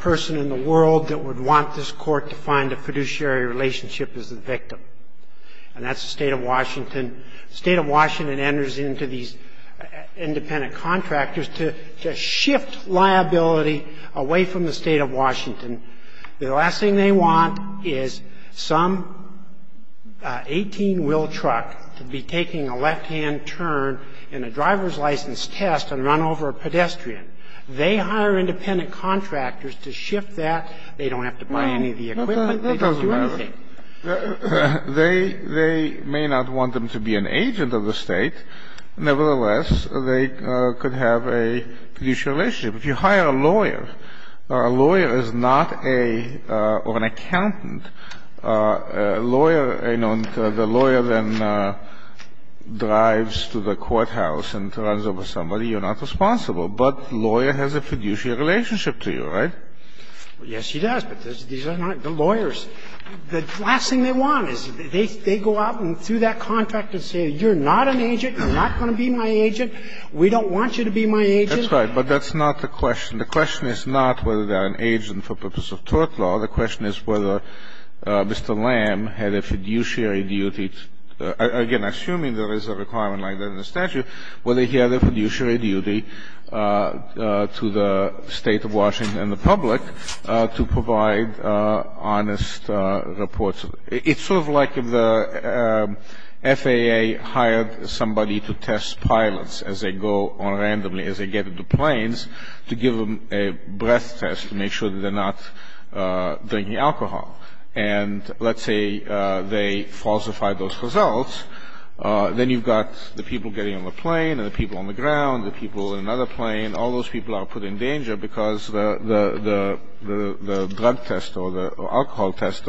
person in the world that would want this court to find a fiduciary relationship is the victim. And that's the state of Washington. The state of Washington enters into these independent contractors to shift liability away from the state of Washington. The last thing they want is some 18-wheel truck to be taking a left-hand turn in a driver's license test and run over a pedestrian. They hire independent contractors to shift that. They don't have to buy any of the equipment. That doesn't matter. They may not want them to be an agent of the state. Nevertheless, they could have a fiduciary relationship. If you hire a lawyer, a lawyer is not a or an accountant. A lawyer, you know, the lawyer then drives to the courthouse and runs over somebody. You're not responsible. But lawyer has a fiduciary relationship to you, right? Yes, he does. These are not the lawyers. The last thing they want is they go out and through that contract and say you're not an agent. You're not going to be my agent. We don't want you to be my agent. That's right. But that's not the question. The question is not whether they're an agent for purpose of tort law. The question is whether Mr. Lam had a fiduciary duty. Again, assuming there is a requirement like that in the statute, whether he had a fiduciary duty to the State of Washington and the public to provide honest reports. It's sort of like if the FAA hired somebody to test pilots as they go on randomly, as they get into planes, to give them a breath test to make sure that they're not drinking alcohol. And let's say they falsified those results, then you've got the people getting on the ground, the people in another plane, all those people are put in danger because the drug test or the alcohol test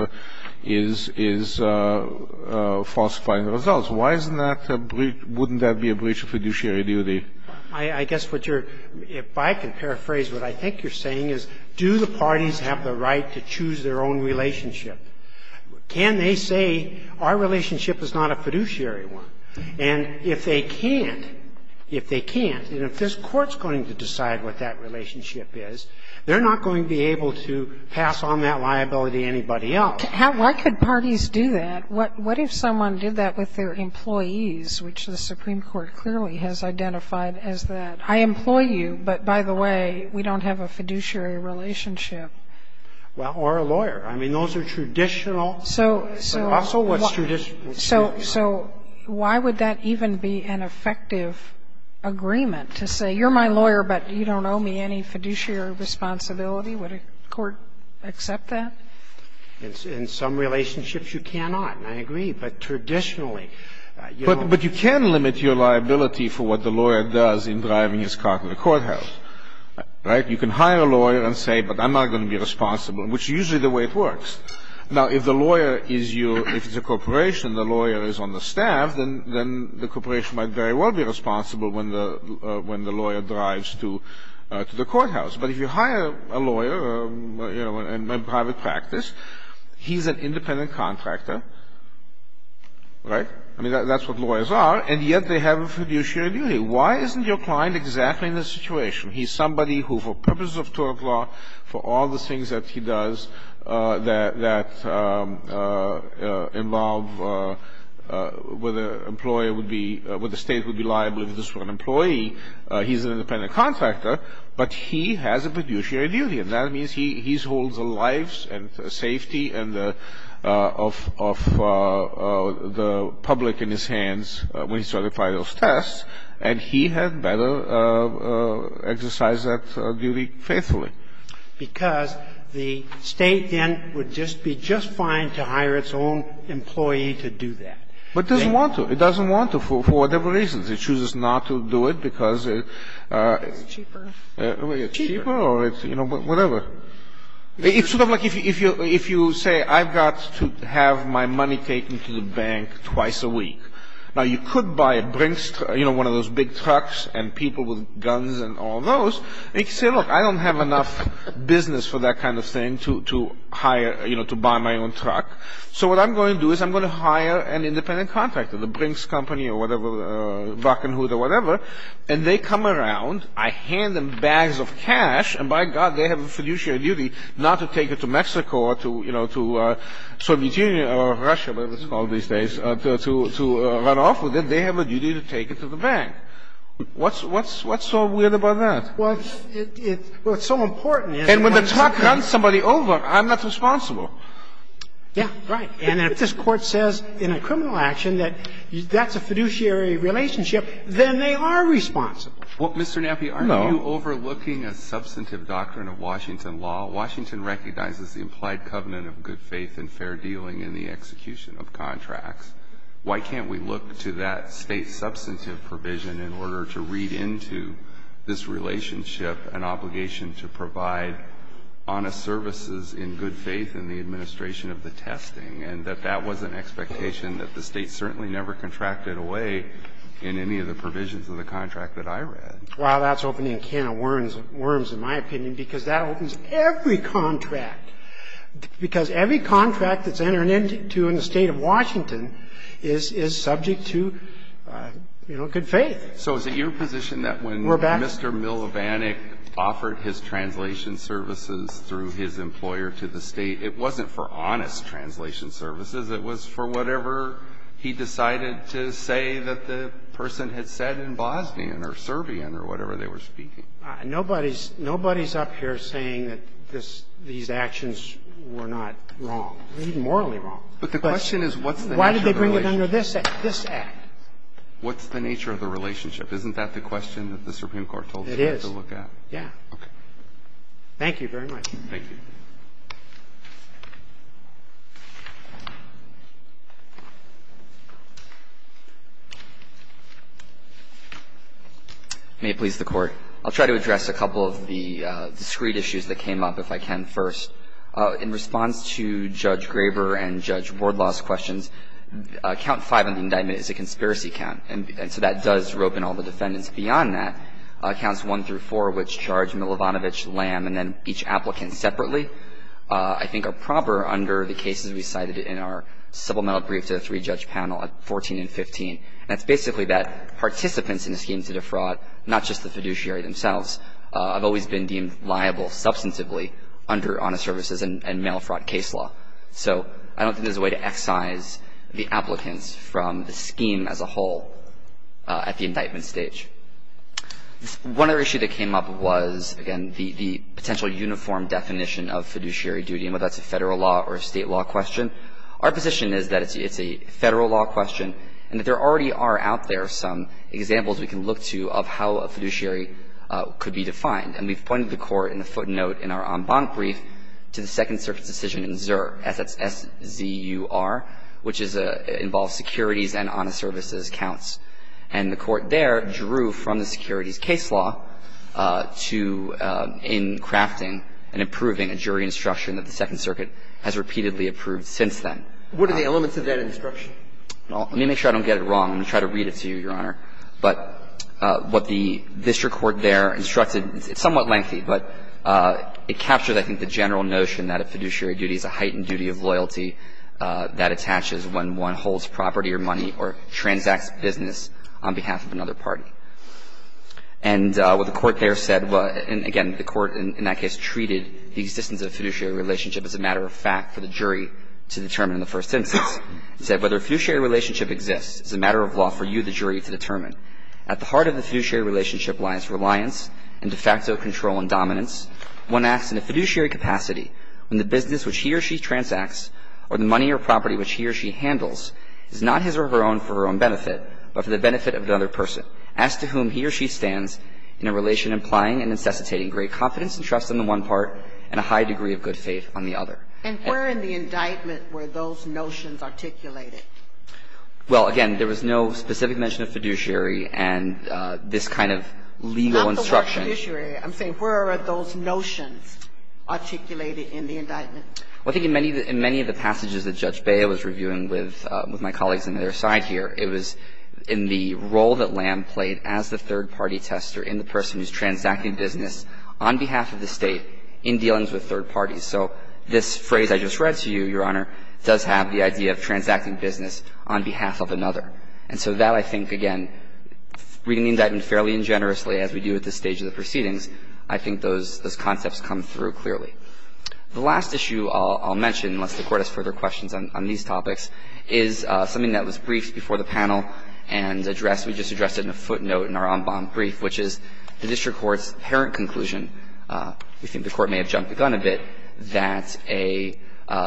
is falsifying the results. Why isn't that a breach? Wouldn't that be a breach of fiduciary duty? I guess what you're – if I can paraphrase what I think you're saying is do the parties have the right to choose their own relationship? Can they say our relationship is not a fiduciary one? And if they can't, if they can't, and if this court's going to decide what that relationship is, they're not going to be able to pass on that liability to anybody else. Why could parties do that? What if someone did that with their employees, which the Supreme Court clearly has identified as that, I employ you, but by the way, we don't have a fiduciary relationship? Well, or a lawyer. I mean, those are traditional – but also what's traditional. So why would that even be an effective agreement to say you're my lawyer, but you don't owe me any fiduciary responsibility? Would a court accept that? In some relationships, you cannot. I agree. But traditionally – But you can limit your liability for what the lawyer does in driving his car to the courthouse, right? You can hire a lawyer and say, but I'm not going to be responsible, which is usually the way it works. Now, if the lawyer is your – if it's a corporation, the lawyer is on the staff, then the corporation might very well be responsible when the lawyer drives to the courthouse. But if you hire a lawyer, you know, in my private practice, he's an independent contractor, right? I mean, that's what lawyers are, and yet they have a fiduciary duty. Why isn't your client exactly in this situation? He's somebody who, for purposes of tort law, for all the things that he does that involve whether the state would be liable if this were an employee, he's an independent contractor. But he has a fiduciary duty, and that means he holds the lives and safety of the public in his hands when he certifies those tests, and he had better exercise that duty faithfully. Because the state then would just be just fine to hire its own employee to do that. But it doesn't want to. It doesn't want to for whatever reasons. It chooses not to do it because it's cheaper or it's, you know, whatever. It's sort of like if you say, I've got to have my money taken to the bank twice a week. Now, you could buy a Brinks, you know, one of those big trucks and people with guns and all those. You could say, look, I don't have enough business for that kind of thing to hire, you know, to buy my own truck. So what I'm going to do is I'm going to hire an independent contractor, the Brinks company or whatever, Rocking Hood or whatever, and they come around. I hand them bags of cash, and by God, they have a fiduciary duty not to take it to Mexico or to, you know, to Soviet Union or Russia, whatever it's called these days, to run off with it. They have a duty to take it to the bank. What's so weird about that? Well, it's so important. And when the truck runs somebody over, I'm not responsible. Yeah, right. And if this Court says in a criminal action that that's a fiduciary relationship, then they are responsible. Well, Mr. Nappi, are you overlooking a substantive doctrine of Washington law? Washington recognizes the implied covenant of good faith and fair dealing in the execution of contracts. Why can't we look to that State substantive provision in order to read into this relationship an obligation to provide honest services in good faith in the administration of the testing and that that was an expectation that the State certainly never contracted away in any of the provisions of the contract that I read? Well, that's opening a can of worms, in my opinion, because that opens every contract. Because every contract that's entered into in the State of Washington is subject to, you know, good faith. So is it your position that when Mr. Milibandic offered his translation services through his employer to the State, it wasn't for honest translation services? It was for whatever he decided to say that the person had said in Bosnian or Serbian or whatever they were speaking? Nobody's up here saying that these actions were not wrong, morally wrong. But the question is what's the nature of the relationship? Why did they bring it under this Act? What's the nature of the relationship? Isn't that the question that the Supreme Court told you to look at? It is. Yeah. Okay. Thank you very much. Thank you. May it please the Court. I'll try to address a couple of the discreet issues that came up, if I can, first. In response to Judge Graber and Judge Wardlaw's questions, count five in the indictment is a conspiracy count. And so that does rope in all the defendants. Beyond that, counts one through four, which charge Milibandic, Lamb, and then each And so that does rope in all the defendants. I think are proper under the cases we cited in our supplemental brief to the three-judge panel of 14 and 15. And it's basically that participants in a scheme to defraud, not just the fiduciary themselves, have always been deemed liable substantively under honest services and mail fraud case law. So I don't think there's a way to excise the applicants from the scheme as a whole at the indictment stage. One other issue that came up was, again, the potential uniform definition of fiduciary duty, whether that's a federal law or a state law question. Our position is that it's a federal law question and that there already are out there some examples we can look to of how a fiduciary could be defined. And we've pointed the Court in the footnote in our en banc brief to the Second Circuit decision in Zur, S-Z-U-R, which involves securities and honest services counts. And the Court there drew from the securities case law to, in crafting and approving a jury instruction that the Second Circuit has repeatedly approved since then. What are the elements of that instruction? Well, let me make sure I don't get it wrong. I'm going to try to read it to you, Your Honor. But what the district court there instructed, it's somewhat lengthy, but it captures, I think, the general notion that a fiduciary duty is a heightened duty of loyalty that attaches when one holds property or money or transacts business on behalf of another party. And what the Court there said, and again, the Court in that case treated the existence of a fiduciary relationship as a matter of fact for the jury to determine in the first instance. It said, whether a fiduciary relationship exists is a matter of law for you, the jury, to determine. At the heart of the fiduciary relationship lies reliance and de facto control and dominance. One acts in a fiduciary capacity when the business which he or she transacts or the money or property which he or she handles is not his or her own for her own benefit, but for the benefit of another person. As to whom he or she stands in a relation implying and necessitating great confidence and trust on the one part and a high degree of good faith on the other. And where in the indictment were those notions articulated? Well, again, there was no specific mention of fiduciary and this kind of legal instruction. I'm saying where are those notions articulated in the indictment? Well, I think in many of the passages that Judge Bea was reviewing with my colleagues on their side here, it was in the role that Lamb played as the third-party tester in the person who's transacting business on behalf of the State in dealings with third parties. So this phrase I just read to you, Your Honor, does have the idea of transacting business on behalf of another. And so that I think, again, reading the indictment fairly and generously as we do at this stage of the proceedings, I think those concepts come through clearly. The last issue I'll mention, unless the Court has further questions on these topics, is something that was briefed before the panel and addressed, we just addressed it in a footnote in our en banc brief, which is the district court's apparent conclusion, we think the Court may have jumped the gun a bit, that a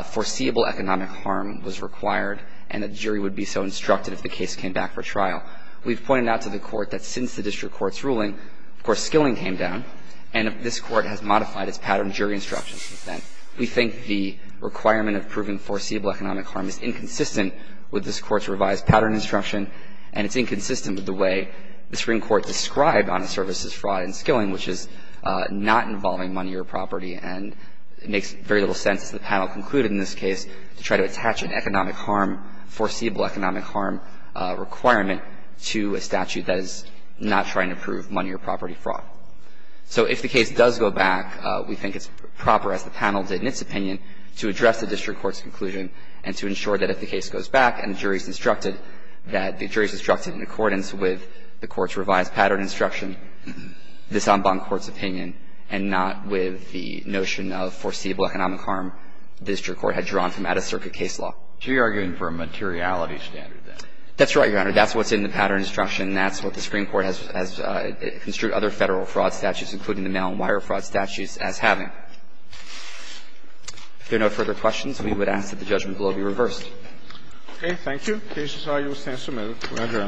foreseeable economic harm was required and that the jury would be so instructed if the case came back for trial. We've pointed out to the Court that since the district court's ruling, of course, skilling came down, and this Court has modified its pattern of jury instruction since then. We think the requirement of proving foreseeable economic harm is inconsistent with this Court's revised pattern instruction, and it's inconsistent with the way the Supreme Court described honest services fraud and skilling, which is not involving money or property. And it makes very little sense, as the panel concluded in this case, to try to attach an economic harm, foreseeable economic harm requirement to a statute that is not trying to prove money or property fraud. So if the case does go back, we think it's proper, as the panel did in its opinion, to address the district court's conclusion and to ensure that if the case goes back and the jury is instructed, that the jury is instructed in accordance with the court's revised pattern instruction, this en banc court's opinion, and not with the notion of foreseeable economic harm the district court had drawn from out-of-circuit case law. So you're arguing for a materiality standard, then? That's right, Your Honor. That's what's in the pattern instruction. That's what the Supreme Court has construed other Federal fraud statutes, including the mail-and-wire fraud statutes, as having. If there are no further questions, we would ask that the judgment bill be reversed. Okay. Thank you. The case is argued as sentence submitted. Go ahead, Your Honor. Thank you, Your Honor.